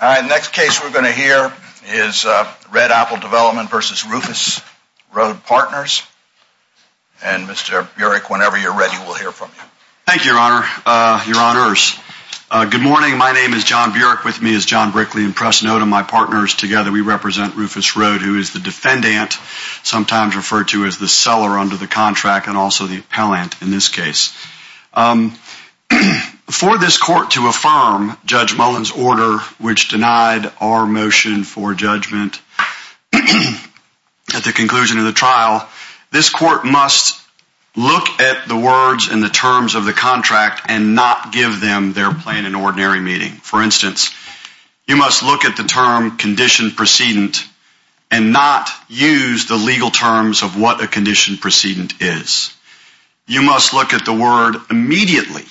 The next case we're going to hear is Red Apple Development v. Rufus Road Partners. And Mr. Burek, whenever you're ready, we'll hear from you. Thank you, Your Honor. Your Honors, good morning. My name is John Burek. With me is John Brickley and Preston Odom, my partners. Together, we represent Rufus Road, who is the defendant, sometimes referred to as the seller under the contract, and also the appellant in this case. For this court to affirm Judge Mullen's order, which denied our motion for judgment at the conclusion of the trial, this court must look at the words and the terms of the contract and not give them their plan in ordinary meeting. For instance, you must look at the term condition precedent and not use the legal terms of what a condition precedent is. You must look at the word immediately,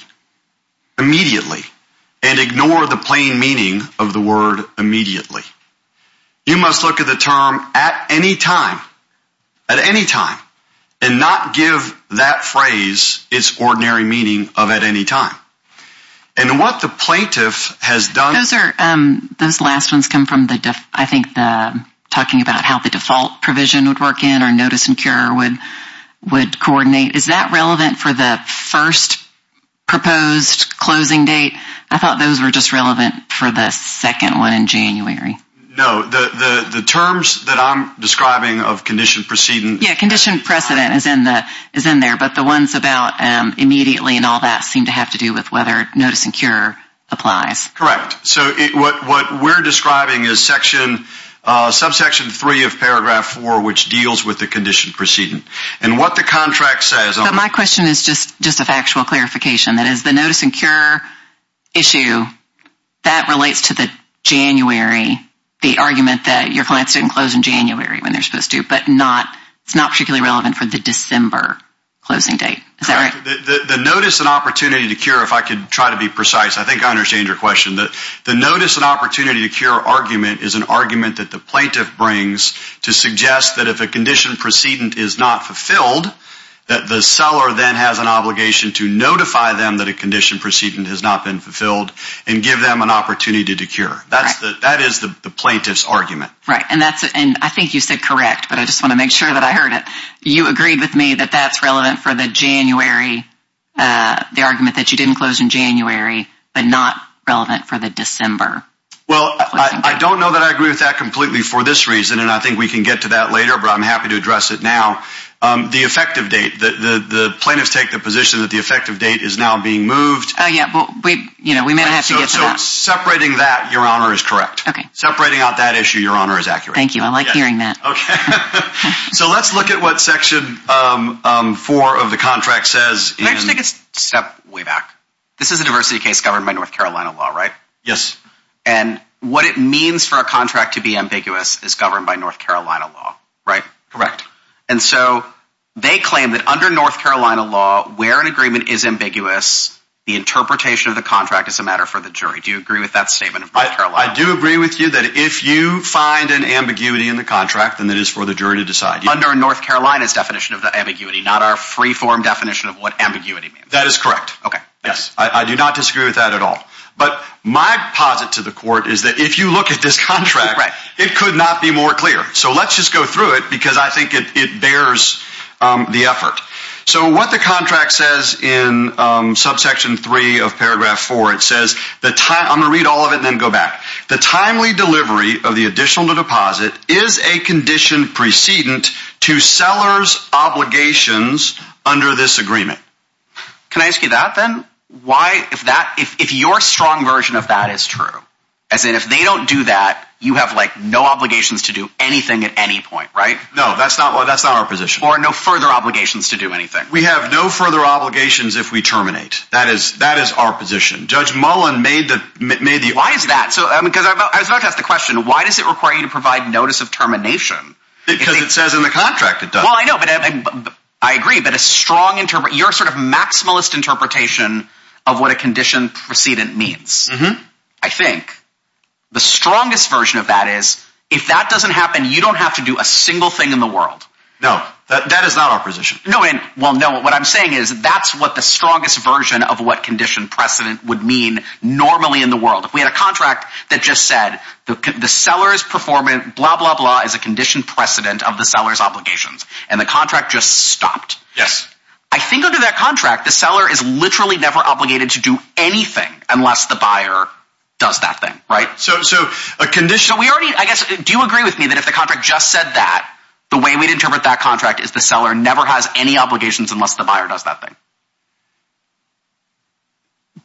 immediately, and ignore the plain meaning of the word immediately. You must look at the term at any time, at any time, and not give that phrase its ordinary meaning of at any time. And what the plaintiff has done— Those last ones come from, I think, talking about how the default provision would work in, notice and cure would coordinate. Is that relevant for the first proposed closing date? I thought those were just relevant for the second one in January. No. The terms that I'm describing of condition precedent— Yeah, condition precedent is in there, but the ones about immediately and all that seem to have to do with whether notice and cure applies. Correct. So what we're describing is subsection three of paragraph four, which deals with the condition precedent. And what the contract says— So my question is just a factual clarification. That is, the notice and cure issue, that relates to the January, the argument that your clients didn't close in January when they're supposed to, but it's not particularly relevant for the December closing date. Is that right? Correct. The notice and opportunity to cure, if I could try to be precise, I think I understand your question. The notice and opportunity to cure argument is an argument that the plaintiff brings to suggest that if a condition precedent is not fulfilled, that the seller then has an obligation to notify them that a condition precedent has not been fulfilled and give them an opportunity to cure. That is the plaintiff's argument. Right. And I think you said correct, but I just want to make sure that I heard it. You agreed with me that that's relevant for the argument that you didn't close in January, but not relevant for the December closing date. Well, I don't know that I agree with that completely for this reason, and I think we can get to that later, but I'm happy to address it now. The effective date, the plaintiffs take the position that the effective date is now being moved. Oh, yeah. But we may have to get to that. So separating that, Your Honor, is correct. Okay. Separating out that issue, Your Honor, is accurate. Thank you. I like hearing that. Okay. So let's look at what section four of the contract says. Let's take a step way back. This is a diversity case governed by North Carolina law, right? Yes. And what it means for a contract to be ambiguous is governed by North Carolina law, right? Correct. And so they claim that under North Carolina law, where an agreement is ambiguous, the interpretation of the contract is a matter for the jury. Do you agree with that statement of North Carolina? I do agree with you that if you find an ambiguity in the contract, then it is for the jury to decide. Under North Carolina's definition of the ambiguity, not our free form definition of what ambiguity means. That is correct. Okay. Yes. I do not disagree with that at all. But my posit to the court is that if you look at this contract, it could not be more clear. So let's just go through it because I think it bears the effort. So what the contract says in subsection three of paragraph four, it says, I'm going to read all of it and then go back. The timely delivery of the additional deposit is a condition precedent to sellers obligations under this agreement. Can I ask you that then? Why, if that, if, if your strong version of that is true, as in, if they don't do that, you have like no obligations to do anything at any point, right? No, that's not what, that's not our position or no further obligations to do anything. We have no further obligations. If we terminate that is, that is our position. Judge Mullin made the, made the, why is that? So, um, because I was about to ask the why does it require you to provide notice of termination? Because it says in the contract, it does. Well, I know, but I agree, but a strong interpret your sort of maximalist interpretation of what a condition precedent means. I think the strongest version of that is, if that doesn't happen, you don't have to do a single thing in the world. No, that is not our position. No. And well, no, what I'm saying is that's what the strongest version of what condition precedent would mean normally in the world. If we had a contract that just said the seller's performance, blah, blah, blah, is a condition precedent of the seller's obligations and the contract just stopped. Yes. I think under that contract, the seller is literally never obligated to do anything unless the buyer does that thing, right? So, so a condition we already, I guess, do you agree with me that if the contract just said that the way we'd interpret that contract is the seller never has any obligations unless the buyer does that thing?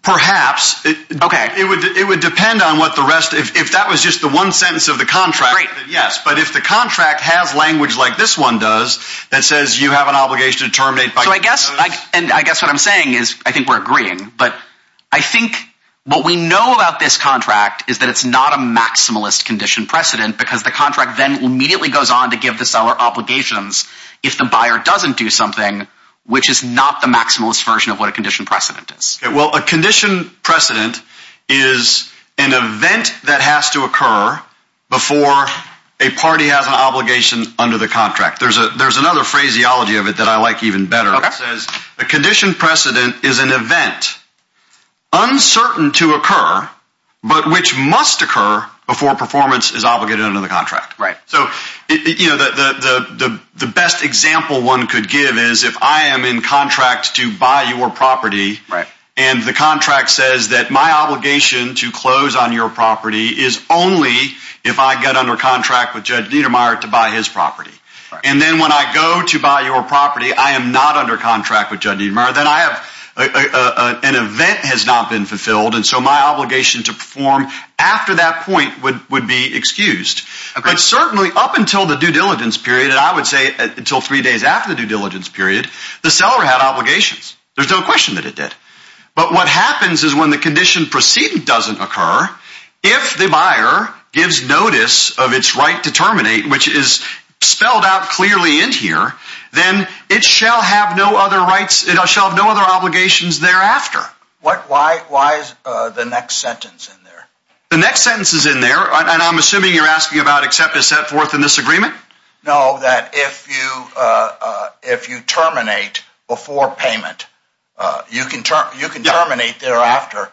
Perhaps. Okay. It would, it would depend on what the rest, if that was just the one sentence of the contract. Yes. But if the contract has language like this one does, that says you have an obligation to terminate. So I guess, and I guess what I'm saying is I think we're agreeing, but I think what we know about this contract is that it's not a maximalist condition precedent because the contract then immediately goes on to give the seller obligations if the buyer doesn't do something, which is not the maximalist version of what a condition precedent is. Well, a condition precedent is an event that has to occur before a party has an obligation under the contract. There's a, there's another phraseology of it that I like even better. It says a condition precedent is an event uncertain to occur, but which must occur before performance is obligated under the contract. Right. So the best example one could give is if I am in contract to buy your property and the contract says that my obligation to close on your property is only if I get under contract with Judge Niedermeyer to buy his property. And then when I go to buy your property, I am not under contract with Judge Niedermeyer, then I have, an event has not been But certainly up until the due diligence period, and I would say until three days after the due diligence period, the seller had obligations. There's no question that it did. But what happens is when the condition precedent doesn't occur, if the buyer gives notice of its right to terminate, which is spelled out clearly in here, then it shall have no other rights. It shall have no other obligations thereafter. What, why, why is the next sentence in there? The next sentence is I'm assuming you're asking about except is set forth in this agreement? No, that if you, if you terminate before payment, you can, you can terminate thereafter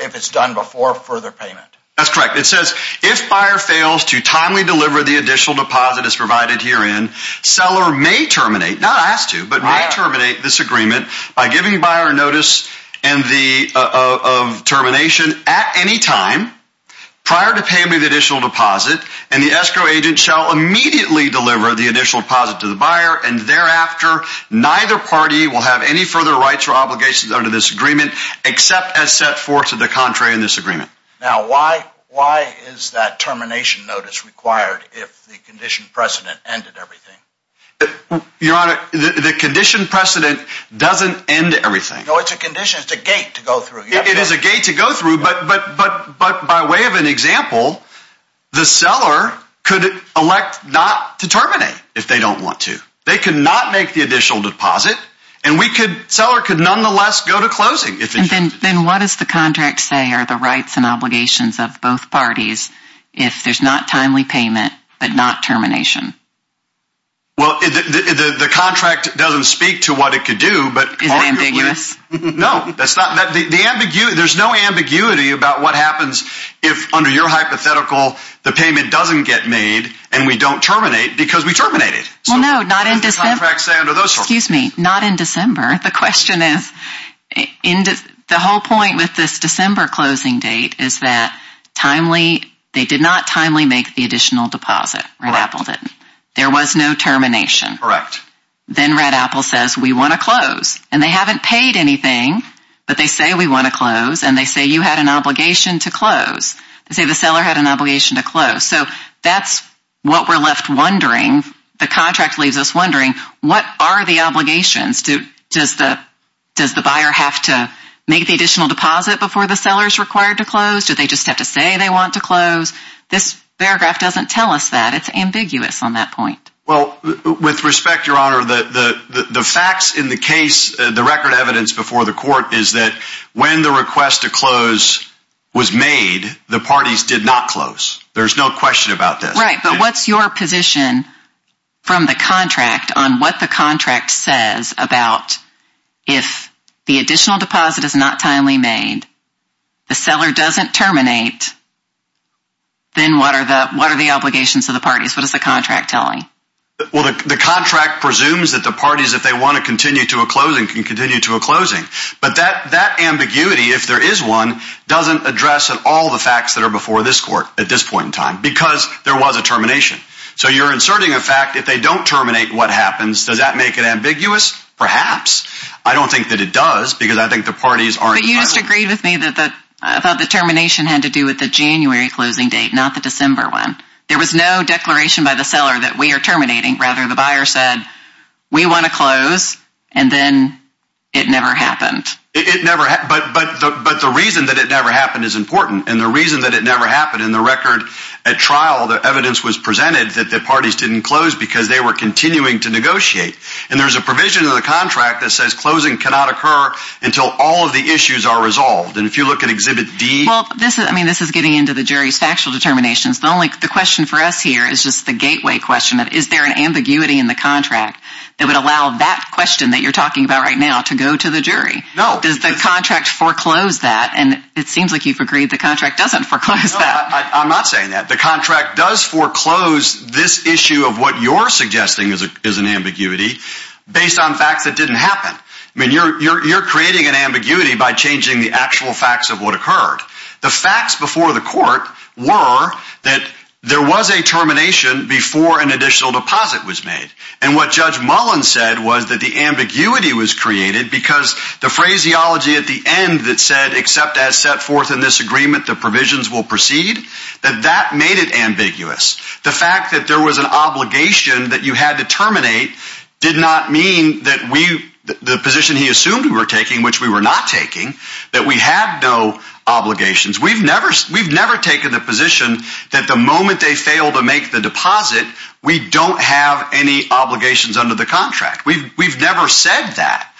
if it's done before further payment. That's correct. It says if buyer fails to timely deliver the additional deposit is provided herein, seller may terminate, not asked to, but may terminate this agreement by giving buyer notice and the, uh, of termination at any time prior to payment of the additional deposit. And the escrow agent shall immediately deliver the initial deposit to the buyer. And thereafter, neither party will have any further rights or obligations under this agreement, except as set forth to the contrary in this agreement. Now, why, why is that termination notice required? If the condition precedent ended everything? Your honor, the condition precedent doesn't end everything. No, it's a condition. It's a gate to go through. It is a gate to go through, but, but, but, but by way of an example, the seller could elect not to terminate if they don't want to, they could not make the additional deposit and we could, seller could nonetheless go to closing. Then what does the contract say are the rights and obligations of both parties if there's not timely payment, but not termination? Well, the, the, the, the contract doesn't speak to what it could do, but. Is it ambiguous? No, that's not that the, the ambiguity, there's no ambiguity about what happens if under your hypothetical, the payment doesn't get made and we don't terminate because we terminate it. Well, no, not in December. Excuse me, not in December. The question is in the whole point with this December closing date is that timely, they did not timely make the additional deposit. Red Apple didn't. There was no termination. Correct. Then Red Apple says, we want to close and they haven't paid anything, but they say, we want to close. And they say, you had an obligation to close. They say the seller had an obligation to close. So that's what we're left wondering. The contract leaves us wondering, what are the obligations? Does the, does the buyer have to make the additional deposit before the seller's required to close? Do they just have to say they want to close? This paragraph doesn't tell us that it's ambiguous on that point. Well, with respect, Your Honor, the, the, the, the facts in the case, the record evidence before the court is that when the request to close was made, the parties did not close. There's no question about this. But what's your position from the contract on what the contract says about if the additional deposit is not timely made, the seller doesn't terminate, then what are the, what are the obligations of the parties? What does the contract tell me? Well, the contract presumes that the parties, if they want to continue to a closing, can continue to a closing, but that, that ambiguity, if there is one doesn't address at all the facts that are before this court at this point in time, because there was a termination. So you're inserting a fact, if they don't terminate, what happens? Does that make it ambiguous? Perhaps. I don't think that it does, because I think the parties aren't. But you just agreed with me that the, about the termination had to do with the January closing date, not the December one. There was no declaration by the seller that we are terminating. Rather, the buyer said, we want to close. And then it never happened. It never, but, but, but the reason that it never happened is important. And the reason that it never happened in the record at trial, the evidence was presented that the parties didn't close because they were continuing to negotiate. And there's a provision in the contract that says closing cannot occur until all of the issues are resolved. And if you look at exhibit D. Well, this is, I mean, this is getting into the jury's factual determinations. The only, the question for us here is just the gateway question of, is there an ambiguity in the contract that would allow that question that you're talking about right now to go to the jury? Does the contract foreclose that? And it seems like you've agreed the contract doesn't foreclose that. I'm not saying that the contract does foreclose this issue of what you're suggesting is a, is an ambiguity based on facts that didn't happen. I mean, you're, you're, you're creating an ambiguity by changing the actual facts of what occurred. The facts before the court were that there was a termination before an additional deposit was made. And what judge Mullen said was that the ambiguity was created because the phraseology at the end that said, except as set forth in this agreement, the provisions will proceed, that that made it ambiguous. The fact that there was an obligation that you had to terminate did not mean that we, the position he assumed we were taking, which we were not taking, that we had no obligations. We've never, we've never taken the position that the moment they obligations under the contract, we've, we've never said that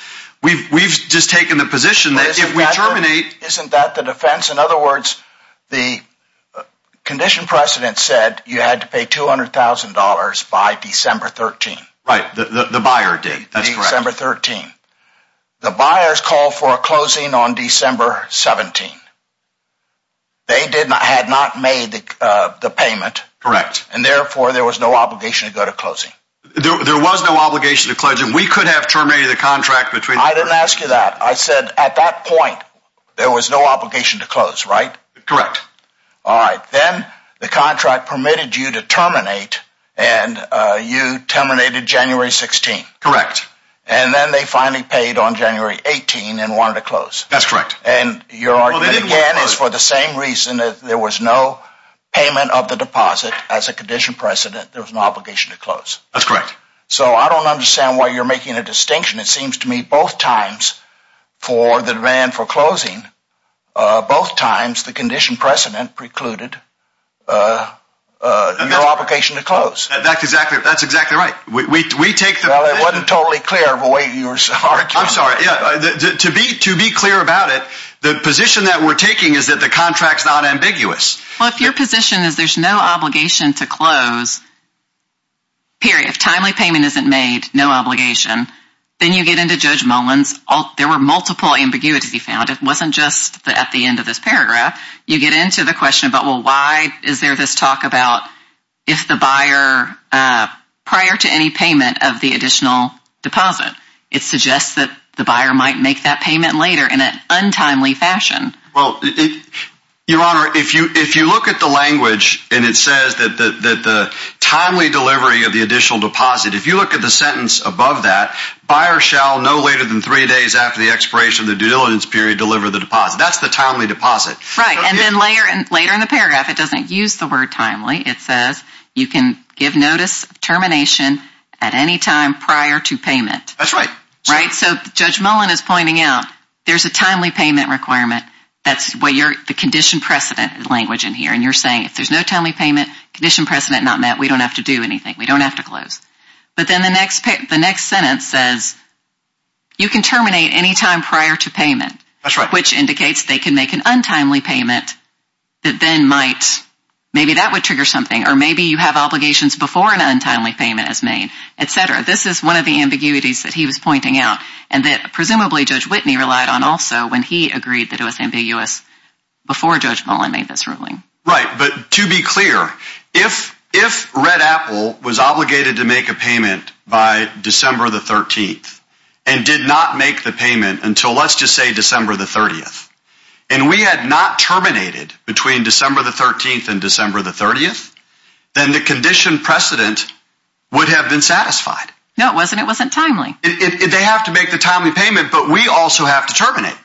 we've, we've just taken the position that if we terminate, isn't that the defense? In other words, the condition precedent said you had to pay $200,000 by December 13, right? The, the, the buyer date, December 13, the buyers call for a closing on December 17. They did not, had not made the, uh, the payment correct. And therefore there was no obligation to go to closing. There was no obligation to closing. We could have terminated the contract between, I didn't ask you that. I said at that point, there was no obligation to close, right? Correct. All right. Then the contract permitted you to terminate and, uh, you terminated January 16th. Correct. And then they finally paid on January 18 and wanted to close. That's correct. And your argument is for the same reason that there was no payment of the deposit as a condition precedent. There was no obligation to close. That's correct. So I don't understand why you're making a distinction. It seems to me both times for the demand for closing, uh, both times the condition precedent precluded, uh, uh, your obligation to close. That's exactly, that's exactly right. We, we, we take the, well, it wasn't totally clear of a way you were, I'm sorry. Yeah. To be, to be clear about it, the position that we're taking is that the contract's not ambiguous. Well, if your position is there's no obligation to close, period, if timely payment isn't made, no obligation, then you get into Judge Mullen's, there were multiple ambiguities he found. It wasn't just at the end of this paragraph. You get into the question about, well, why is there this talk about if the buyer, uh, prior to any payment of the additional deposit, it suggests that the buyer might make that payment later in an Your Honor, if you, if you look at the language and it says that, that, that the timely delivery of the additional deposit, if you look at the sentence above that, buyer shall no later than three days after the expiration of the due diligence period, deliver the deposit. That's the timely deposit. Right. And then later, later in the paragraph, it doesn't use the word timely. It says you can give notice termination at any time prior to payment. That's right. Right. So Judge Mullen is pointing out there's a timely payment requirement. That's what you're, the condition precedent language in here. And you're saying if there's no timely payment, condition precedent not met, we don't have to do anything. We don't have to close. But then the next, the next sentence says you can terminate any time prior to payment. That's right. Which indicates they can make an untimely payment that then might, maybe that would trigger something, or maybe you have obligations before an untimely payment is made, et cetera. This is one of the ambiguities that he was pointing out and that presumably Judge Whitney relied on also when he agreed that it was ambiguous before Judge Mullen made this ruling. Right. But to be clear, if, if Red Apple was obligated to make a payment by December the 13th and did not make the payment until let's just say December the 30th, and we had not terminated between December the 13th and December the 30th, then the condition precedent would have been satisfied. No, it wasn't. It wasn't timely. They have to make the timely payment, but we also have to terminate.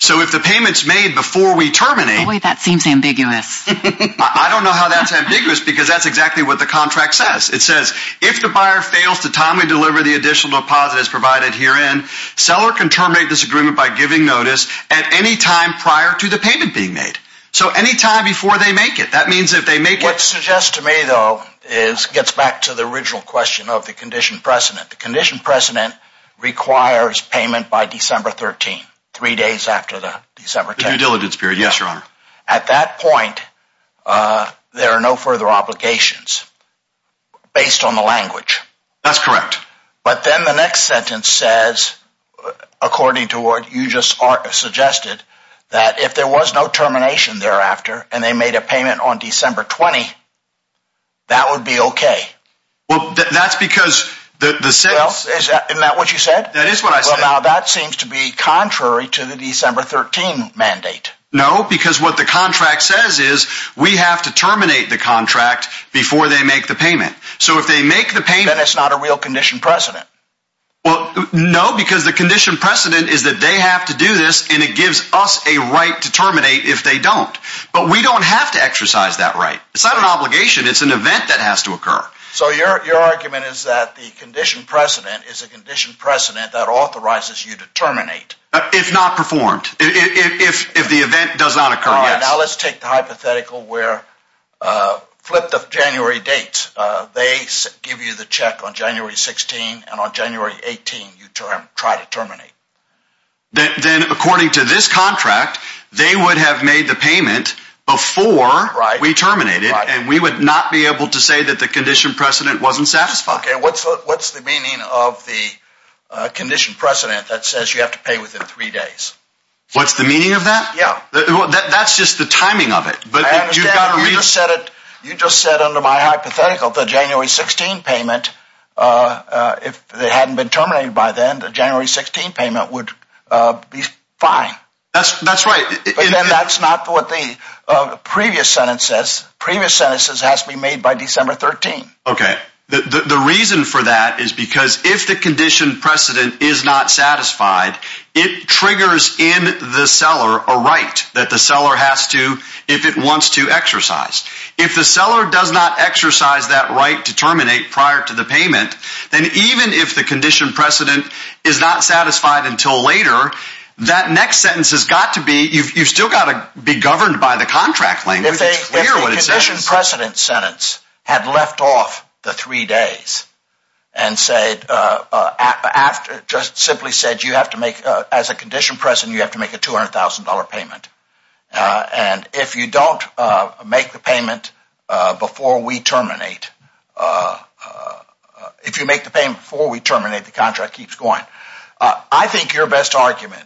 So if the payment's made before we terminate. Boy, that seems ambiguous. I don't know how that's ambiguous because that's exactly what the contract says. It says if the buyer fails to timely deliver the additional deposit is provided herein, seller can terminate this agreement by giving notice at any time prior to the payment being made. So anytime before they make it, that means if they make it. What suggests to me though, is gets back to the original question of the condition precedent. The condition precedent requires payment by December 13, three days after the December due diligence period. Yes, your honor. At that point, uh, there are no further obligations based on the language. That's correct. But then the next sentence says, according to what you just suggested, that if there was no termination thereafter and they made a payment on December 20, that would be okay. Well, that's because the, the sales, isn't that what you said? That is what I said. That seems to be contrary to the December 13 mandate. No, because what the contract says is we have to terminate the contract before they make the payment. So if they make the payment, it's not a real condition precedent. Well, no, because the condition precedent is that they have to do this and it gives us a right to terminate if they don't. But we don't have to exercise that right. It's not an obligation. It's an event that has to occur. So your, your argument is that the condition precedent is a condition precedent that authorizes you to terminate if not performed, if, if, if the event does not occur. Now let's take the hypothetical where, uh, flip the January date. Uh, they give you the check on January 16 and on January 18 you term try to terminate. Then, then according to this contract, they would have made the payment before we terminated and we would not be able to say that the condition precedent wasn't satisfied. Okay. What's the, what's the meaning of the, uh, condition precedent that says you have to pay within three days? What's the meaning of that? That's just the timing of it. But you've got to reset it. You just said under my hypothetical, the January 16 payment, uh, uh, if they hadn't been terminated by then, the January 16 payment would, uh, be fine. That's, that's right. But then that's not what the previous sentence says. Previous sentences has to be made by December 13. Okay. The, the, the reason for that is because if the condition precedent is not satisfied, it triggers in the seller a right that the seller has to, if it wants to exercise, if the seller does not exercise that right to terminate prior to the payment, then even if the condition precedent is not satisfied until later, that next sentence has got to be, you've, you've still got to be governed by the contract language. If they hear what it says. If the condition precedent sentence had left off the three days and said, uh, uh, after just simply said, you have to make a, as a condition precedent, you have to make a $200,000 payment. Uh, and if you don't, uh, make the payment, uh, before we terminate, uh, uh, if you make the payment before we terminate, the contract keeps going. Uh, I think your best argument,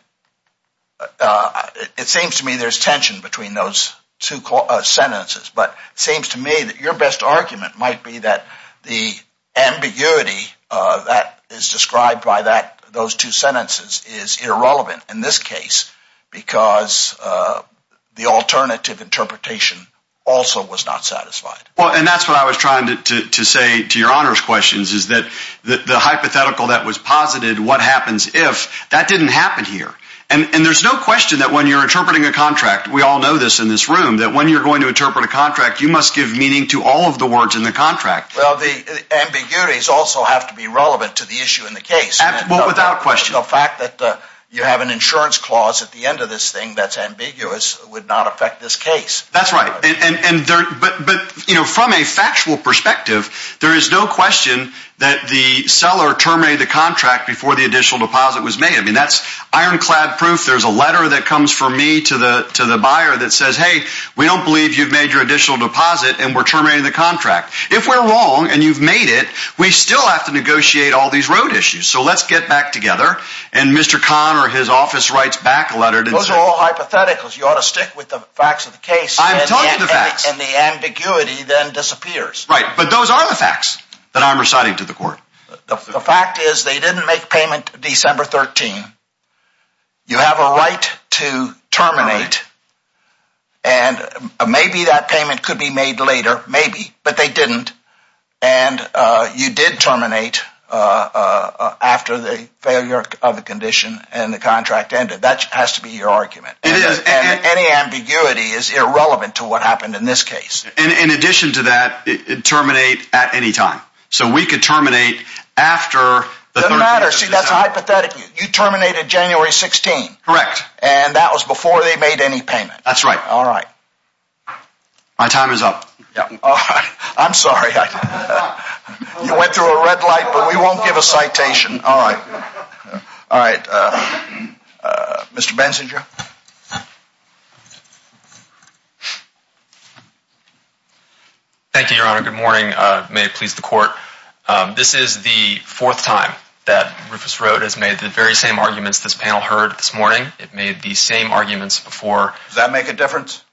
uh, it seems to me there's tension between those two sentences, but it seems to me that your best argument might be that the ambiguity, uh, that is described by that, those two sentences is irrelevant in this case because, uh, the alternative interpretation also was not satisfied. Well, and that's what I was trying to say to your honors questions is that the hypothetical that was posited, what happens if that didn't happen here? And there's no question that when you're interpreting a contract, we all know this in this room, that when you're going to interpret a contract, you must give meaning to all of the words in the contract. Well, the ambiguities also have to be relevant to the issue in the case without question, the fact that you have an insurance clause at the end of this thing, that's ambiguous would not affect this case. That's right. And, and, and there, but, but, you know, from a factual perspective, there is no question that the seller terminated the contract before the additional deposit was made. I mean, that's ironclad proof. There's a letter that comes from me to the, to the buyer that says, Hey, we don't believe you've made your additional deposit and we're terminating the contract. If we're wrong and you've made it, we still have to negotiate all these road issues. So let's get back together. And Mr. Conner, his office writes back a letter. Those are all hypotheticals. You ought to stick with the facts of the case and the ambiguity then disappears, right? But those are the facts that I'm reciting to the court. The fact is they didn't make payment December 13. You have a right to terminate and maybe that payment could be made later, maybe, but they didn't. And, uh, you did terminate, uh, uh, after the failure of the condition and the contract ended, that has to be your argument. And any ambiguity is irrelevant to what happened in this case. And in addition to that, it terminate at any time. So we could terminate after the matter. See, that's a hypothetic. You terminated January 16. Correct. And that was before they made any payment. That's right. All right. My time is up. I'm sorry. You went through a red light, but we won't give a citation. All right. All right. Uh, uh, Mr. Benzinger. Thank you, Your Honor. Good morning. Uh, may it please the court. Um, this is the fourth time that Rufus Road has made the very same arguments this panel heard this morning. It made the same arguments before. Does that make a difference?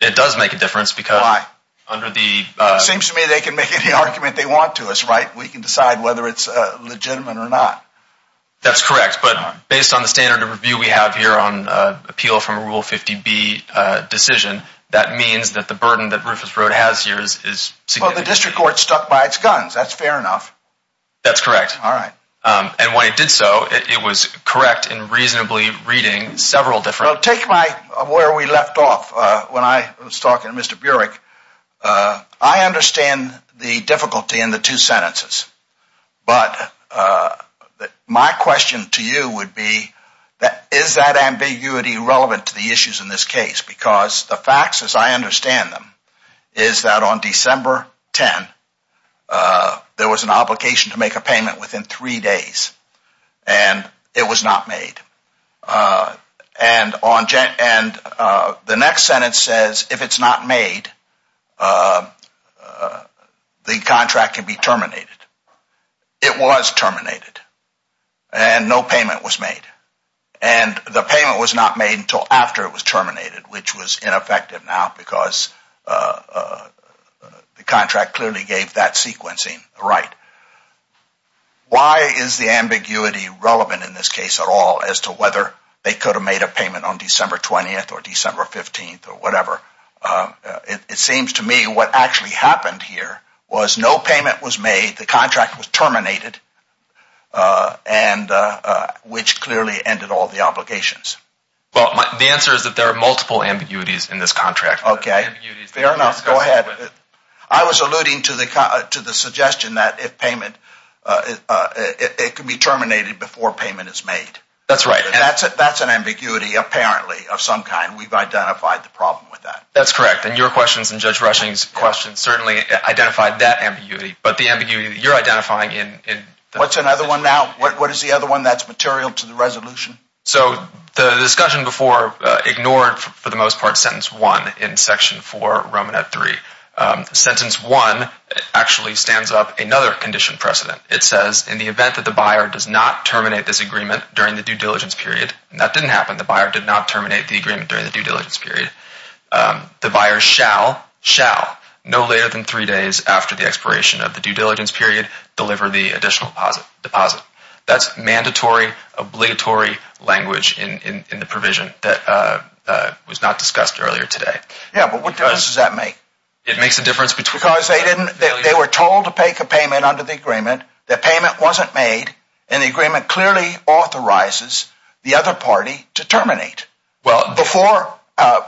It does make a difference because under the, uh, it seems to me they can make any argument they want to us, right? We can decide whether it's a legitimate or not. That's correct. But based on the standard of review, we have here on appeal from a rule 50 B decision. That means that the burden that Rufus Road has years is the district court stuck by its guns. That's fair enough. That's correct. All right. Um, and when it did so, it was correct in reasonably reading several different take my where we left off. Uh, when I was talking to Mr. Burek, uh, I understand the difficulty in the two sentences, but, uh, my question to you would be that is that ambiguity relevant to the issues in this case? Because the facts as I understand them is that on December 10, uh, there was an obligation to make a payment within three days and it was not made. Uh, and on Jen and, uh, the next sentence says, if it's not made, uh, uh, the contract can be terminated. It was terminated and no payment was made and the payment was not made until after it was terminated, which was ineffective now because, uh, uh, the contract clearly gave that sequencing, right? Why is the ambiguity relevant in this case at all as to whether they could have made a payment on December 20th or December 15th or whatever? Uh, it, it seems to me what actually happened here was no payment was made. The contract was terminated, uh, and, uh, uh, which clearly ended all the obligations. Well, the answer is that there are multiple ambiguities in this contract. Okay. Fair enough. Go ahead. I was alluding to the, uh, to the suggestion that if payment, uh, it, uh, it, it can be terminated before payment is made. That's right. And that's it. That's an ambiguity, apparently of some kind we've identified the problem with that. That's correct. And your questions and Judge Rushing's questions certainly identified that ambiguity, but the ambiguity that you're identifying in, in what's another one now, what, what is the other one that's material to the resolution? So the discussion before, uh, ignored for the most part, sentence one in section four, Roman at three, um, sentence one actually stands up another condition precedent. It says in the event that the buyer does not terminate this agreement during the due diligence period, and that didn't happen. The buyer did not terminate the agreement during the due diligence period. Um, the buyer shall, shall no later than three days after the expiration of the due diligence period, deliver the additional deposit deposit that's mandatory obligatory language in, in, in the provision that, uh, uh, was not discussed earlier today. Yeah. But what does that make? It makes a difference because they didn't, they were told to make a payment under the agreement that payment wasn't made. And the agreement clearly authorizes the other party to terminate well before, uh,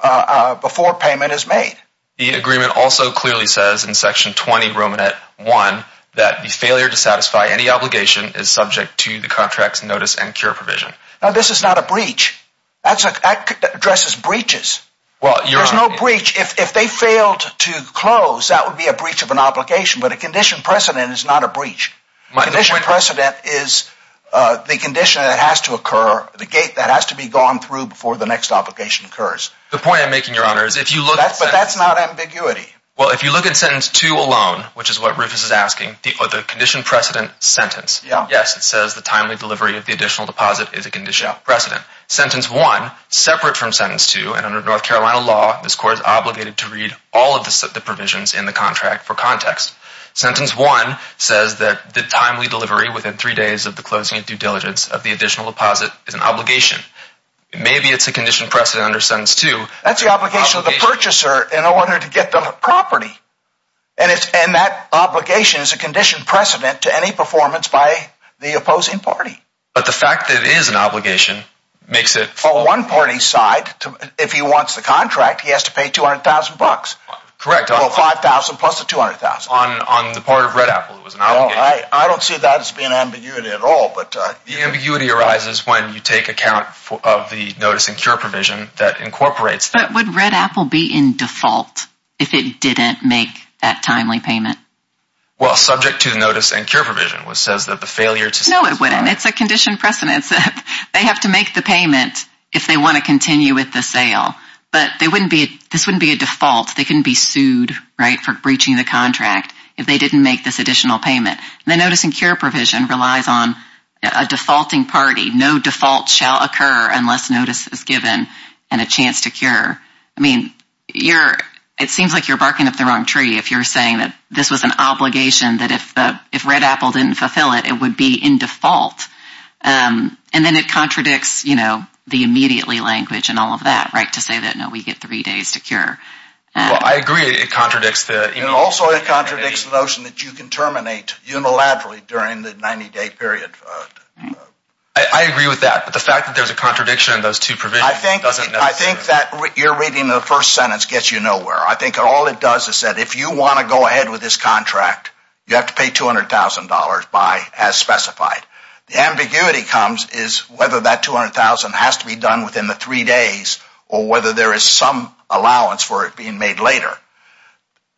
uh, before payment is made. The agreement also clearly says in section 20 Roman at one, that the failure to satisfy any obligation is subject to the contracts, notice and cure provision. Now, this is not a breach that's addresses breaches. Well, there's no breach. If they failed to close, that would be a breach of an obligation, but a condition precedent is not a breach. My condition precedent is, uh, the condition that has to occur, the gate that has to be gone through before the next obligation occurs. The point I'm making your honor is if you look at that, but that's not ambiguity. Well, if you look at sentence two alone, which is what Rufus is asking the other condition precedent sentence. Yes. It says the timely delivery of the additional deposit is a conditional precedent sentence one separate from sentence two. And under North Carolina law, this court is obligated to sentence one says that the timely delivery within three days of the closing due diligence of the additional deposit is an obligation. Maybe it's a condition precedent under sentence two. That's the obligation of the purchaser in order to get the property. And it's, and that obligation is a condition precedent to any performance by the opposing party. But the fact that it is an obligation makes it for one party side. If he wants the contract, he has to pay 200,000 bucks. Correct. Well, 5,000 plus the 200,000 on, on the part of red apple. It was an obligation. I don't see that as being ambiguity at all, but uh, the ambiguity arises when you take account of the notice and cure provision that incorporates. But would red apple be in default if it didn't make that timely payment? Well, subject to the notice and cure provision was says that the failure to say, no, it wouldn't. It's a condition precedent. They have to make the payment if they want to this wouldn't be a default. They couldn't be sued, right. For breaching the contract. If they didn't make this additional payment and the notice and cure provision relies on a defaulting party, no default shall occur unless notice is given and a chance to cure. I mean, you're, it seems like you're barking up the wrong tree. If you're saying that this was an obligation that if the, if red apple didn't fulfill it, it would be in default. Um, and then it contradicts, you know, the immediately language and all of that, right. To say that, no, we get three days to cure. Well, I agree. It contradicts the, and also it contradicts the notion that you can terminate unilaterally during the 90 day period. I agree with that. But the fact that there's a contradiction in those two provisions, I think, I think that you're reading the first sentence gets you nowhere. I think all it does is said, if you want to go ahead with this contract, you have to pay $200,000 by as specified. The ambiguity comes is whether that 200,000 has to be done within the three days or whether there is some allowance for it being made later.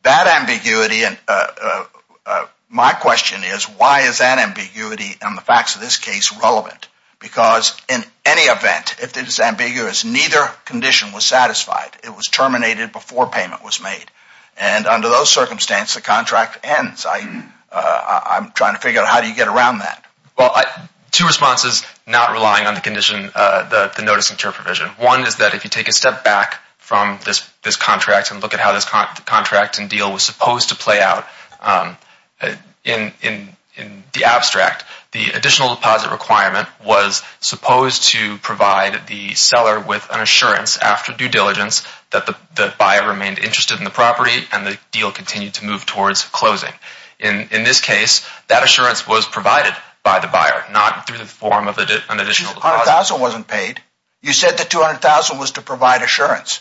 That ambiguity. And, uh, uh, uh, my question is why is that ambiguity and the facts of this case relevant? Because in any event, if it is ambiguous, neither condition was satisfied, it was terminated before payment was made. And under those circumstances, the contract ends. I, uh, I'm trying to figure out how do you get around that? Well, two responses, not relying on the condition, uh, the, the notice and term provision. One is that if you take a step back from this, this contract and look at how this contract and deal was supposed to play out, um, in, in, in the abstract, the additional deposit requirement was supposed to provide the seller with an assurance after due diligence that the buyer remained interested in the property and the deal continued to move towards closing. In this case, that assurance was provided by the buyer, not through the form of an additional deposit. 200,000 wasn't paid. You said that 200,000 was to provide assurance.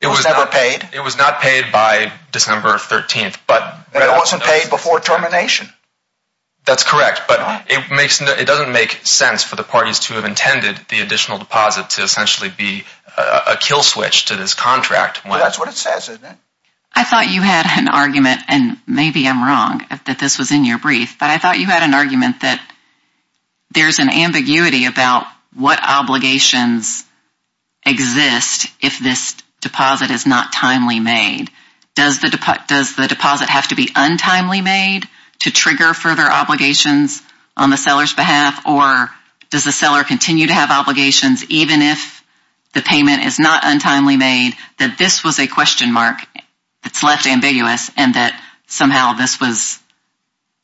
It was never paid. It was not paid by December 13th, but. It wasn't paid before termination. That's correct. But it makes no, it doesn't make sense for the parties to have intended the additional deposit to essentially be a kill switch to this contract. Well, that's what it says. I thought you had an argument and maybe I'm wrong that this was in your brief, but I thought you had an argument that there's an ambiguity about what obligations exist if this deposit is not timely made. Does the, does the deposit have to be untimely made to trigger further obligations on the seller's behalf or does the seller continue to have obligations even if the payment is not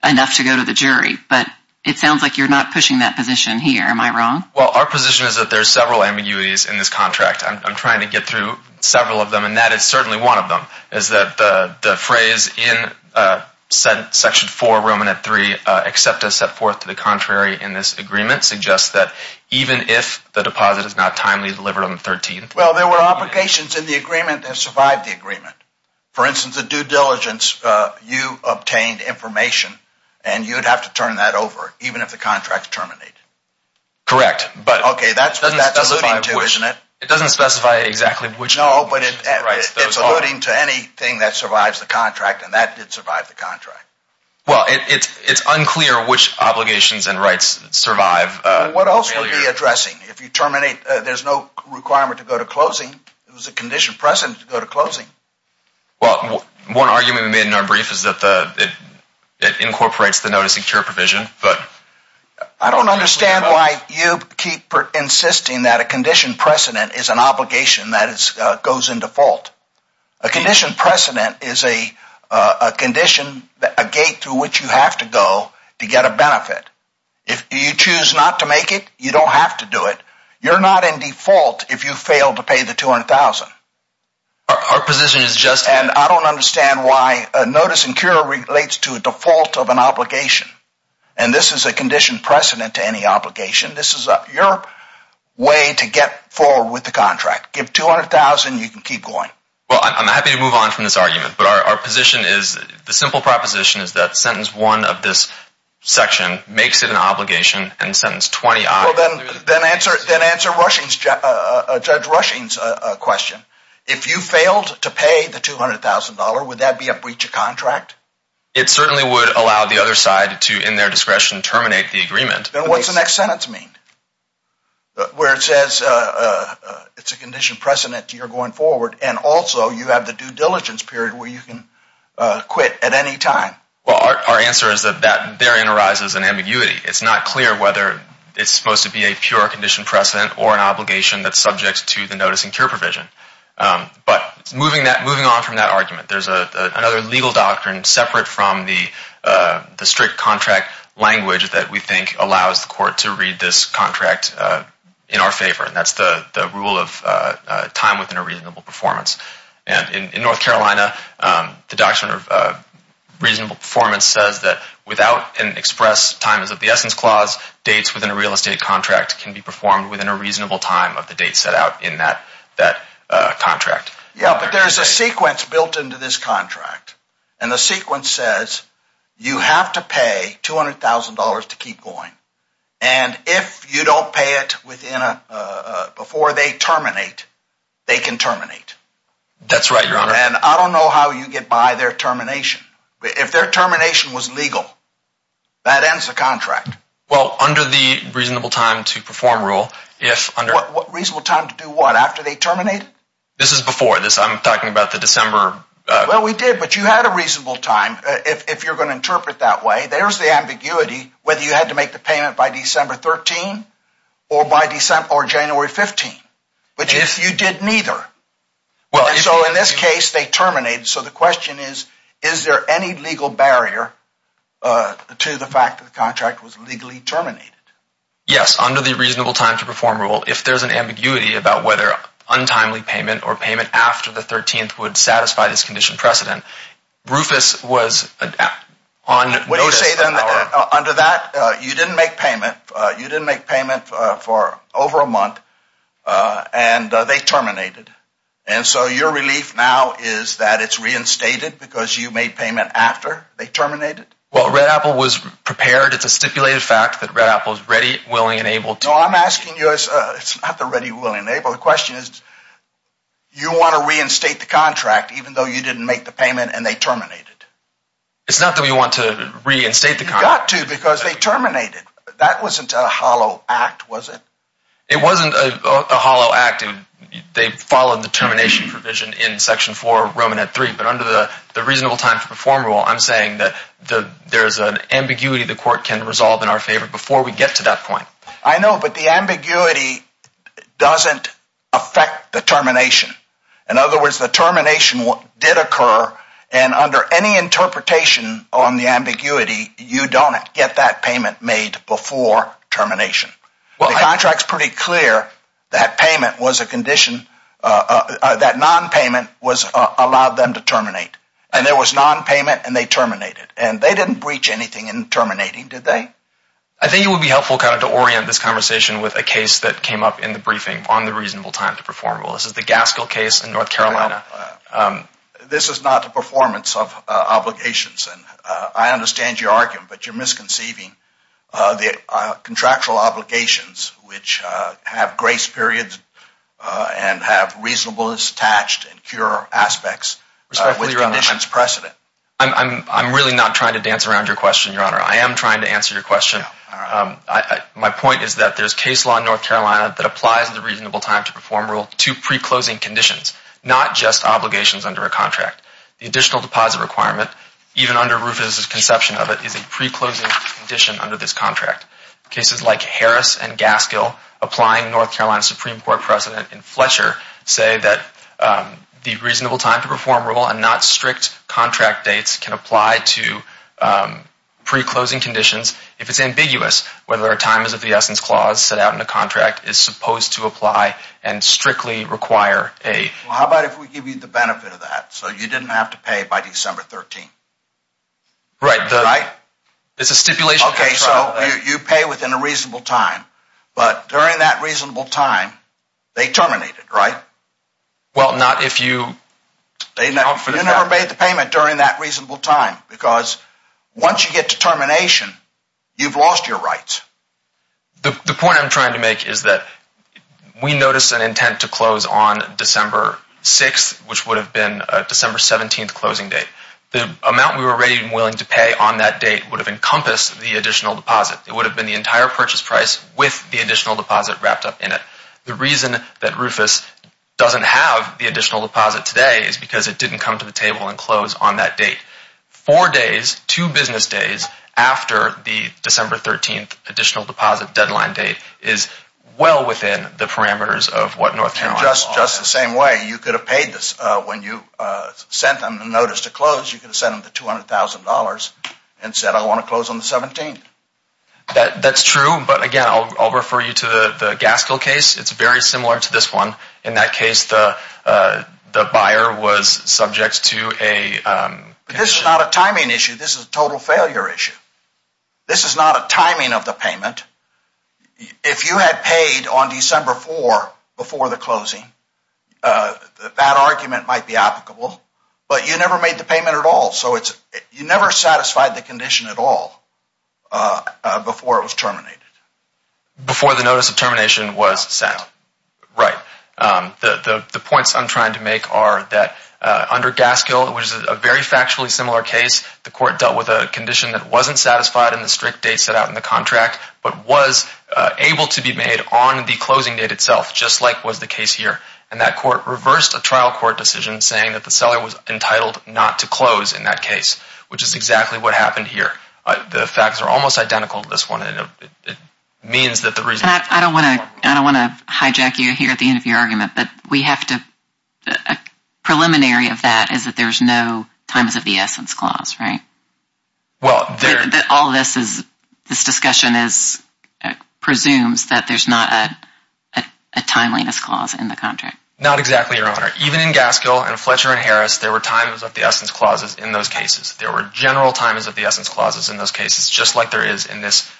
enough to go to the jury? But it sounds like you're not pushing that position here. Am I wrong? Well, our position is that there's several ambiguities in this contract. I'm trying to get through several of them and that is certainly one of them is that the phrase in section four, Roman at three, except to set forth to the contrary in this agreement suggests that even if the deposit is not timely delivered on the 13th. Well, there were obligations in the agreement that survived the agreement. For instance, the due diligence, uh, you obtained information and you'd have to turn that over even if the contract is terminated. Correct. But okay. That's what that's alluding to, isn't it? It doesn't specify exactly which. No, but it's alluding to anything that survives the contract and that did survive the contract. Well, it's, it's unclear which obligations and rights survive. What else would be addressing if you terminate, uh, there's no requirement to go to closing. It was a condition precedent to go to closing. Well, one argument we made in our brief is that the, it incorporates the noticing cure provision, but I don't understand why you keep insisting that a condition precedent is an obligation that is, uh, goes in default. A condition precedent is a, uh, a condition, a gate through which you have to go to get a benefit. If you choose not to make it, you don't have to do it. You're not in default. If you fail to pay the 200,000, our position is just, and I don't understand why a notice and cure relates to a default of an obligation. And this is a condition precedent to any obligation. This is your way to get forward with the contract. Give 200,000, you can keep going. Well, I'm happy to move on from this argument, but our position is the simple proposition is that sentence one of this section makes it an obligation and sentence 20. Then answer, then answer rushing's, uh, judge rushing's, uh, question. If you failed to pay the $200,000, would that be a breach of contract? It certainly would allow the other side to, in their discretion, terminate the agreement. Then what's the next sentence mean? Where it says, uh, uh, it's a condition precedent to you're going forward. And also you have the period where you can, uh, quit at any time. Well, our answer is that that therein arises an ambiguity. It's not clear whether it's supposed to be a pure condition precedent or an obligation that's subject to the notice and cure provision. Um, but moving that moving on from that argument, there's a, uh, another legal doctrine separate from the, uh, the strict contract language that we think allows the court to read this contract, uh, in our favor. That's the, the rule of, uh, uh, time within a reasonable performance. And in North Carolina, um, the doctrine of, uh, reasonable performance says that without an express time as of the essence clause dates within a real estate contract can be performed within a reasonable time of the date set out in that, that, uh, contract. Yeah, but there's a sequence built into this contract and the sequence says you have to pay $200,000 to keep going. And if you don't pay it within a, uh, before they terminate, they can terminate. That's right, Your Honor. And I don't know how you get by their termination, but if their termination was legal, that ends the contract. Well, under the reasonable time to perform rule, if under what reasonable time to do what after they terminate it, this is before this, I'm talking about the December. Well, we did, but you had a reasonable time. If you're going to interpret that way, there's the ambiguity, whether you had to make the payment by December 13 or by December or January 15, but if you did neither, well, so in this case they terminate. So the question is, is there any legal barrier, uh, to the fact that the contract was legally terminated? Yes. Under the reasonable time to perform rule, if there's an ambiguity about whether untimely payment or payment after the 13th would satisfy this condition precedent, Rufus was on notice. Under that, uh, you didn't make payment, uh, you didn't make payment for over a month, uh, and, uh, they terminated. And so your relief now is that it's reinstated because you made payment after they terminated. Well, Red Apple was prepared. It's a stipulated fact that Red Apple is ready, willing, and able to. No, I'm asking you, it's not the ready, willing, and able. The question is, you want to reinstate the contract even though you didn't make the payment and they terminated? It's not that we want to reinstate the contract. You got to because they terminated. That wasn't a hollow act, was it? It wasn't a hollow act. They followed the termination provision in Section 4, Roman at 3, but under the reasonable time to perform rule, I'm saying that there's an ambiguity the court can resolve in our favor before we get to that point. I know, but the ambiguity doesn't affect the termination. In other words, the termination did occur, and under any interpretation on the ambiguity, you don't get that payment made before termination. The contract's pretty clear that payment was a condition, uh, uh, that non-payment was, uh, allowed them to terminate. And there was non-payment and they terminated. And they didn't breach anything in terminating, did they? I think it would be helpful kind of to orient this conversation with a case that came up in the briefing on the reasonable time to perform rule. This is the Gaskell case in North Carolina. Um, this is not the performance of, uh, obligations. And, uh, I understand your argument, but you're misconceiving, uh, the, uh, contractual obligations which, uh, have grace periods, uh, and have reasonableness attached and cure aspects with conditions precedent. I'm, I'm, I'm really not trying to dance around your question, Your Honor. I am trying to answer your question. Um, I, I, my point is that there's case law in preclosing conditions, not just obligations under a contract. The additional deposit requirement, even under Rufus' conception of it, is a preclosing condition under this contract. Cases like Harris and Gaskell applying North Carolina Supreme Court precedent in Fletcher say that, um, the reasonable time to perform rule and not strict contract dates can apply to, um, preclosing conditions if it's ambiguous whether a time is of the essence clause set and strictly require a... Well, how about if we give you the benefit of that so you didn't have to pay by December 13th? Right, the... Right? It's a stipulation... Okay, so you pay within a reasonable time, but during that reasonable time, they terminate it, right? Well, not if you... They never... You never made the payment during that reasonable time because once you get to We noticed an intent to close on December 6th, which would have been a December 17th closing date. The amount we were ready and willing to pay on that date would have encompassed the additional deposit. It would have been the entire purchase price with the additional deposit wrapped up in it. The reason that Rufus doesn't have the additional deposit today is because it didn't come to the table and close on that date. Four days, two business days after the December 13th deposit deadline date is well within the parameters of what North Carolina... And just the same way, you could have paid this when you sent them the notice to close. You could have sent them the $200,000 and said, I want to close on the 17th. That's true, but again, I'll refer you to the Gaskell case. It's very similar to this one. In that case, the buyer was subject to a... This is not a timing issue. This is a total failure issue. This is not a timing of the payment. If you had paid on December 4th before the closing, that argument might be applicable, but you never made the payment at all. You never satisfied the condition at all before it was terminated. Before the notice of termination was sent. Right. The points I'm trying to make are that under Gaskell, which is a very factually similar case, the court dealt with a condition that wasn't satisfied in the strict date set out in the contract, but was able to be made on the closing date itself, just like was the case here. And that court reversed a trial court decision saying that the seller was entitled not to close in that case, which is exactly what happened here. The facts are almost identical to this one. It means that the reason... I don't want to hijack you here at the end of your argument, but we have to... A preliminary of that is that there's no times of the essence clause, right? All of this is... This discussion presumes that there's not a timeliness clause in the contract. Not exactly, Your Honor. Even in Gaskell and Fletcher and Harris, there were times of the essence clauses in those cases. There were general times of the essence clauses in those cases, just like there is in this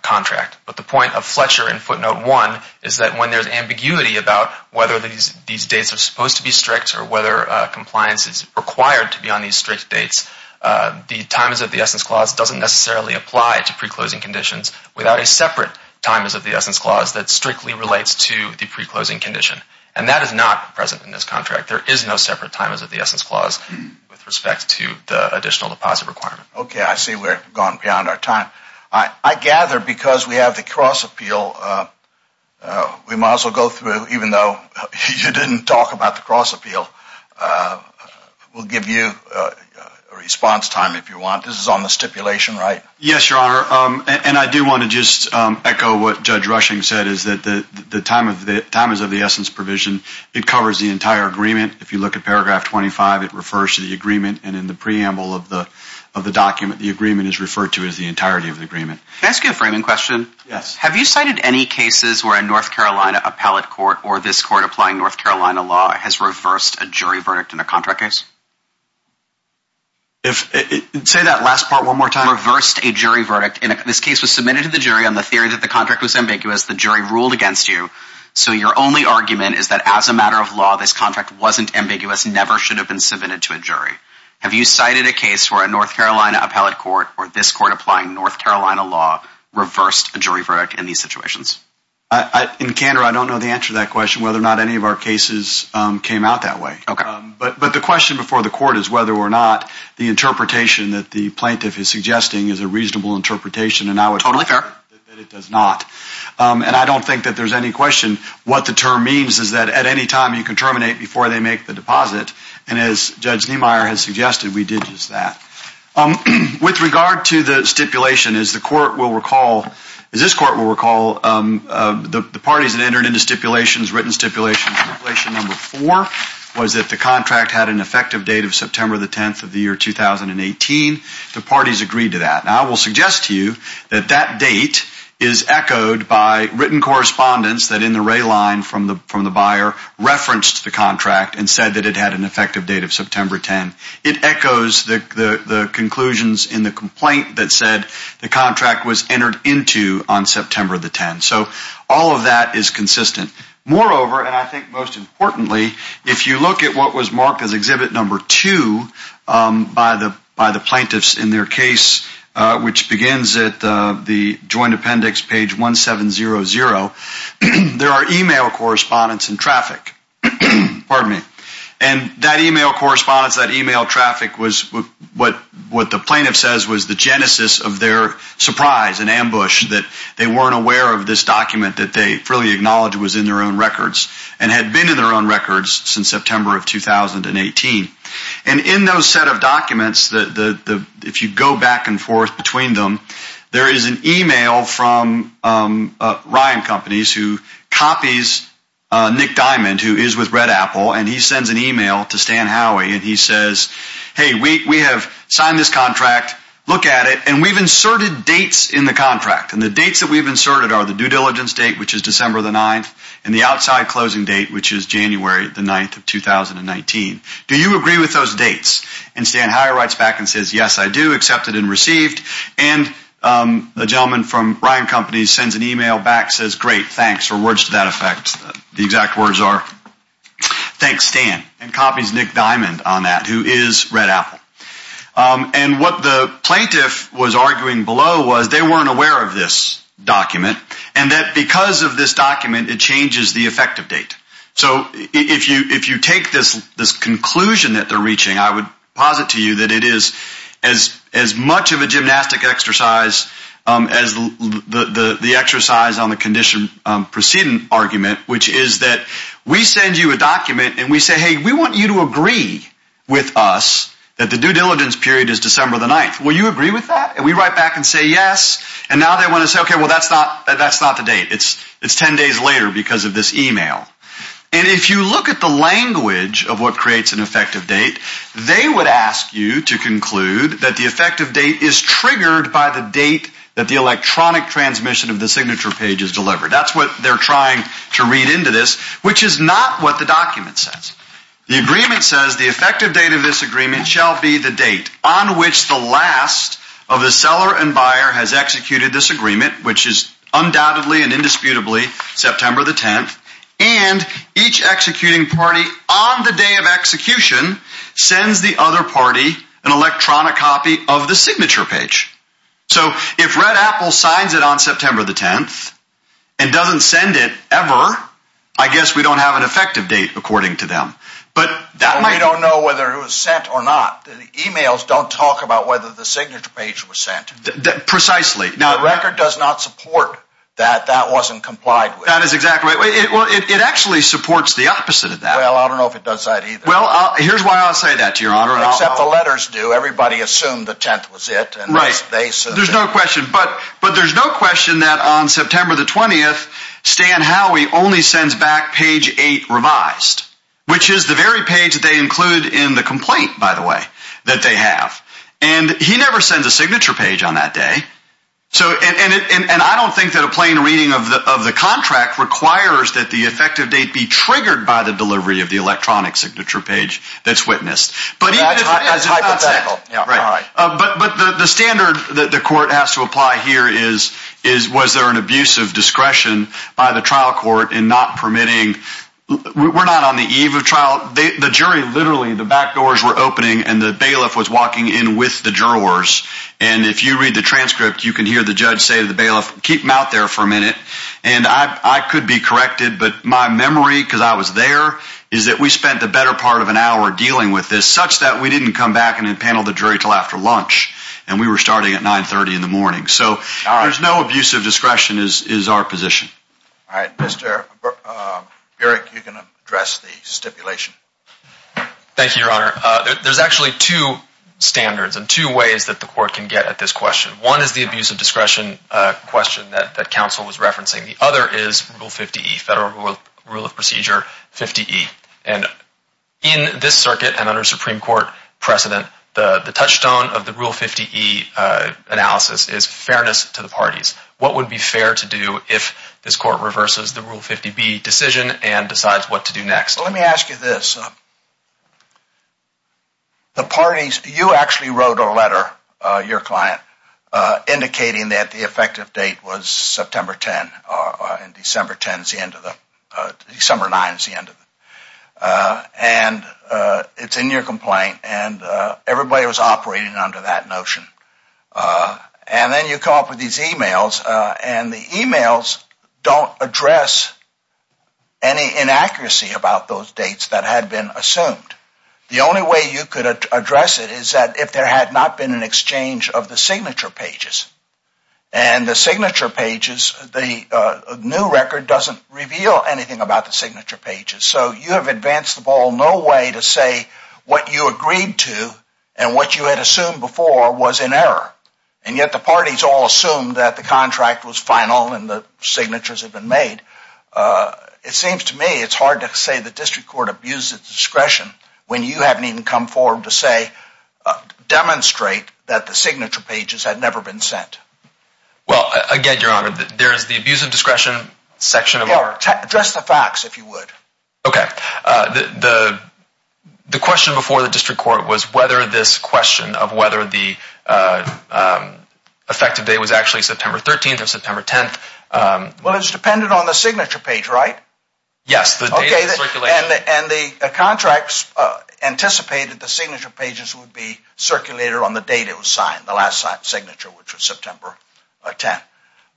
contract. But the point of Fletcher and footnote one is that when there's ambiguity about whether these dates are supposed to be strict or whether compliance is required to be on these strict dates, the times of the essence clause doesn't necessarily apply to pre-closing conditions without a separate times of the essence clause that strictly relates to the pre-closing condition. And that is not present in this contract. There is no separate times of the essence clause with respect to the additional deposit requirement. Okay. I see we're gone beyond our time. I gather because we have the cross appeal, we might as well go through, even though you didn't talk about the cross appeal, we'll give you a response time if you want. This is on the stipulation, right? Yes, Your Honor. And I do want to just echo what Judge Rushing said, is that the time is of the essence provision. It covers the entire agreement. If you look at paragraph 25, it refers to the of the document. The agreement is referred to as the entirety of the agreement. Can I ask you a framing question? Yes. Have you cited any cases where a North Carolina appellate court or this court applying North Carolina law has reversed a jury verdict in a contract case? Say that last part one more time. Reversed a jury verdict. This case was submitted to the jury on the theory that the contract was ambiguous. The jury ruled against you. So your only argument is that as a matter of law, this contract wasn't ambiguous, never should have been submitted to a jury. Have you cited a case where a North Carolina appellate court or this court applying North Carolina law reversed a jury verdict in these situations? In candor, I don't know the answer to that question, whether or not any of our cases came out that way. But the question before the court is whether or not the interpretation that the plaintiff is suggesting is a reasonable interpretation. And I would totally fair that it does not. And I don't think that there's any question what the term means is that at any time you can terminate before they make the deposit. And as Judge Niemeyer has suggested, we did use that. With regard to the stipulation, as the court will recall, as this court will recall, the parties that entered into stipulations, written stipulations, stipulation number four was that the contract had an effective date of September the 10th of the year 2018. The parties agreed to that. Now I will suggest to you that that date is echoed by written correspondence that in the ray line from the buyer referenced the contract and said that it had an effective date of September 10th. It echoes the conclusions in the complaint that said the contract was entered into on September the 10th. So all of that is consistent. Moreover, and I think most importantly, if you look at what was marked as exhibit number two by the plaintiffs in their case, which begins at the joint appendix page 1700, there are email correspondence and traffic. Pardon me. And that email correspondence, that email traffic was what the plaintiff says was the genesis of their surprise and ambush that they weren't aware of this document that they fully acknowledged was in their own records and had been in their own records since September of 2018. And in those set of documents, if you go back and forth between them, there is an email from Ryan Companies who copies Nick Diamond, who is with Red Apple, and he sends an email to Stan Howey and he says, hey, we have signed this contract, look at it, and we've inserted dates in the contract. And the dates that we've inserted are the due diligence date, which is December the 9th, and the outside closing date, which is January the 9th of 2019. Do you agree with those dates? And Stan Howey writes back and says, yes, I do accept it and receive it. And the gentleman from Ryan Companies sends an email back and says, great, thanks, or words to that effect. The exact words are, thanks, Stan, and copies Nick Diamond on that, who is Red Apple. And what the plaintiff was arguing below was they weren't aware of this document and that because of this document, it changes the effective date. So if you take this conclusion that they're reaching, I would posit to you that it is as much of a gymnastic exercise as the exercise on the condition proceeding argument, which is that we send you a document and we say, hey, we want you to agree with us that the due diligence period is December the 9th. Will you agree with that? And we write back and say, yes. And now they want to say, okay, well, that's not the date. It's 10 days later because of this email. And if you look at the language of what creates an effective date, they would ask you to conclude that the effective date is triggered by the date that the electronic transmission of the signature page is delivered. That's what they're trying to read into this, which is not what the document says. The agreement says the effective date of this agreement shall be the date on which the last of the seller and buyer has executed this agreement, which is undoubtedly and indisputably September the 10th, and each executing party on the day of execution sends the other party an electronic copy of the signature page. So if Red Apple signs it on September the 10th and doesn't send it ever, I guess we don't have an effective date according to them. But that might- We don't know whether it was sent or not. The emails don't talk about whether the signature page was sent. Precisely. Now- The record does not support that that wasn't complied with. Well, it actually supports the opposite of that. Well, I don't know if it does that either. Well, here's why I'll say that to your honor. Except the letters do. Everybody assumed the 10th was it, and they said- There's no question. But there's no question that on September the 20th, Stan Howey only sends back page eight revised, which is the very page that they include in the complaint, by the way, that they have. And he never sends a signature page on that day. So, and I don't think that a plain reading of the contract requires that the effective date be triggered by the delivery of the electronic signature page that's witnessed. But even if it's not sent- But the standard that the court has to apply here is, was there an abuse of discretion by the trial court in not permitting? We're not on the eve of trial. The jury literally, the back doors were opening and the bailiff was You can hear the judge say to the bailiff, keep them out there for a minute. And I could be corrected, but my memory, because I was there, is that we spent the better part of an hour dealing with this, such that we didn't come back and panel the jury until after lunch. And we were starting at 930 in the morning. So there's no abuse of discretion is our position. All right, Mr. Burek, you can address the stipulation. Thank you, your honor. There's actually two standards and two ways that the court can get at this question. One is the abuse of discretion question that counsel was referencing. The other is Rule 50E, Federal Rule of Procedure 50E. And in this circuit and under Supreme Court precedent, the touchstone of the Rule 50E analysis is fairness to the parties. What would be fair to do if this court reverses the Rule 50B decision and decides what to do next? Let me ask you this. You actually wrote a letter, your client, indicating that the effective date was September 10. And December 9 is the end of it. And it's in your complaint. And everybody was operating under that notion. And then you come up with these emails. And the emails don't address any inaccuracy about those dates that had been assumed. The only way you could address it is that if there had not been an exchange of the signature pages. And the signature pages, the new record doesn't reveal anything about the signature pages. So you have advanced the ball no way to say what you agreed to and what you had assumed before was in error. And yet the parties all that the contract was final and the signatures had been made. It seems to me it's hard to say the district court abused its discretion when you haven't even come forward to say, demonstrate that the signature pages had never been sent. Well, again, Your Honor, there is the abuse of discretion section. Address the facts, if you would. Okay. The question before the district court was whether this question of whether the effective date was actually September 13th or September 10th. Well, it's dependent on the signature page, right? Yes. And the contracts anticipated the signature pages would be circulated on the date it was signed, the last signature, which was September 10th.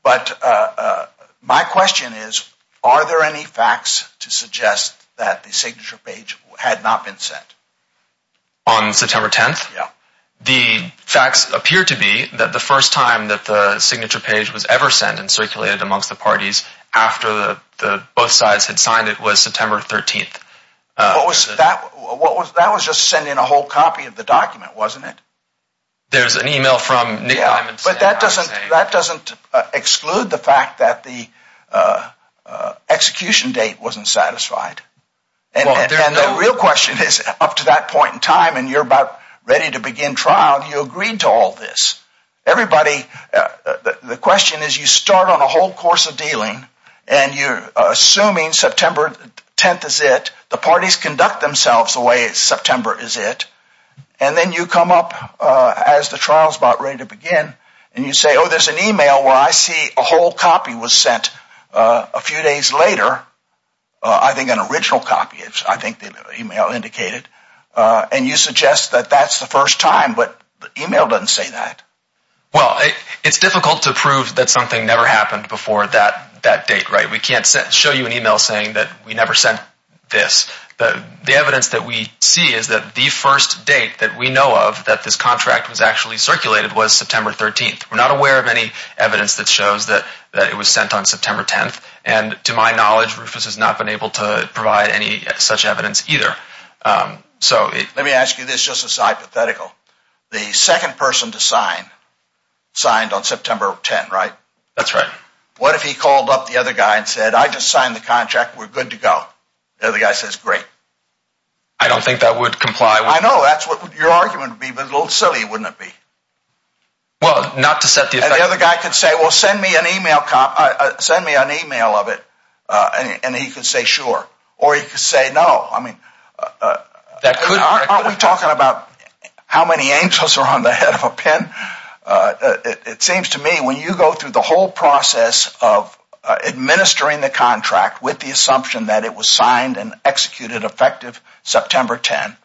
But my question is, are there any facts to suggest that the signature page had not been sent? On September 10th? Yeah. The facts appear to be that the first time that the signature page was ever sent and circulated amongst the parties after the both sides had signed, it was September 13th. That was just sending a whole copy of the document, wasn't it? There's an email from Nick Diamond. But that doesn't exclude the fact that the execution date wasn't satisfied. And the real question is, up to that point in time and you're about ready to begin trial, you agreed to all this. Everybody, the question is, you start on a whole course of dealing and you're assuming September 10th is it. The parties conduct themselves the way September is it. And then you come up as the trial's about ready to begin and you say, oh, there's an email where I see a whole copy was sent a few days later. I think an original copy, I think the email indicated. And you suggest that that's the first time, but the email doesn't say that. Well, it's difficult to prove that something never happened before that date, right? We can't show you an email saying that we never sent this. The evidence that we see is that the first date that we know of that this contract was actually circulated was September 13th. We're not aware of any evidence that shows that it was sent on September 10th. And to my knowledge, Rufus has not been able to provide any such evidence either. Let me ask you this just as hypothetical. The second person to sign, signed on September 10th, right? That's right. What if he called up the other guy and said, I just signed the contract. We're good to go. The other guy says, great. I don't think that would comply. I know that's what your argument would be, a little silly, wouldn't it be? Well, not to set the effect. And the other guy could say, well, send me an email, send me an email of it. And he could say, sure. Or he could say, no. I mean, aren't we talking about how many angels are on the head of a pen? It seems to me when you go through the whole process of administering the contract with the assumption that it was signed and executed effective September 10th,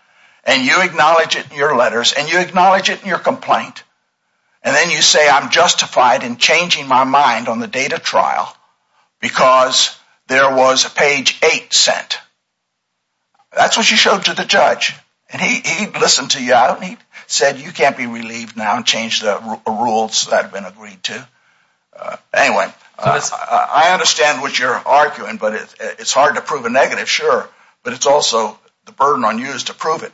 and you acknowledge it in your letters, and you acknowledge it in your complaint, and then you say, I'm justified in changing my mind on the date of trial because there was a page 8 sent. That's what you showed to the judge. And he listened to you out, and he said, you can't be relieved now and change the rules that have been agreed to. Anyway, I understand what you're arguing, but it's hard to prove a negative, sure. But it's also the burden on you is to prove it.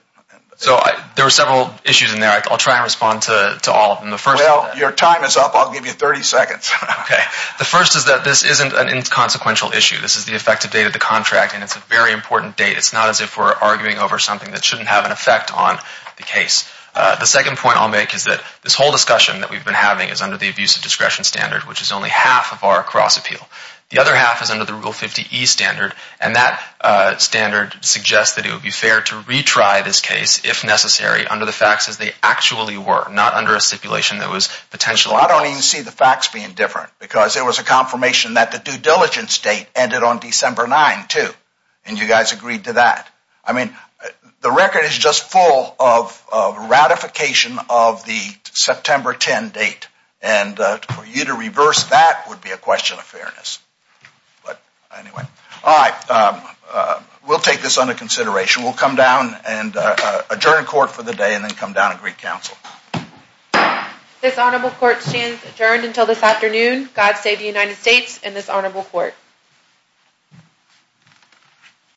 So there were several issues in there. I'll try and respond to all of them. Well, your time is up. I'll give you 30 seconds. Okay. The first is that this isn't an inconsequential issue. This is the effective date of the contract, and it's a very important date. It's not as if we're arguing over something that shouldn't have an effect on the case. The second point I'll make is that this whole discussion that we've which is only half of our cross appeal. The other half is under the Rule 50E standard, and that standard suggests that it would be fair to retry this case if necessary under the facts as they actually were, not under a stipulation that was potentially false. I don't even see the facts being different because there was a confirmation that the due diligence date ended on December 9, too, and you guys agreed to that. I mean, the record is just full of ratification of the September 10 date, and for you to reverse that would be a question of fairness. But anyway, all right. We'll take this under consideration. We'll come down and adjourn court for the day and then come down and greet counsel. This honorable court stands adjourned until this afternoon. God save the United States and this honorable court.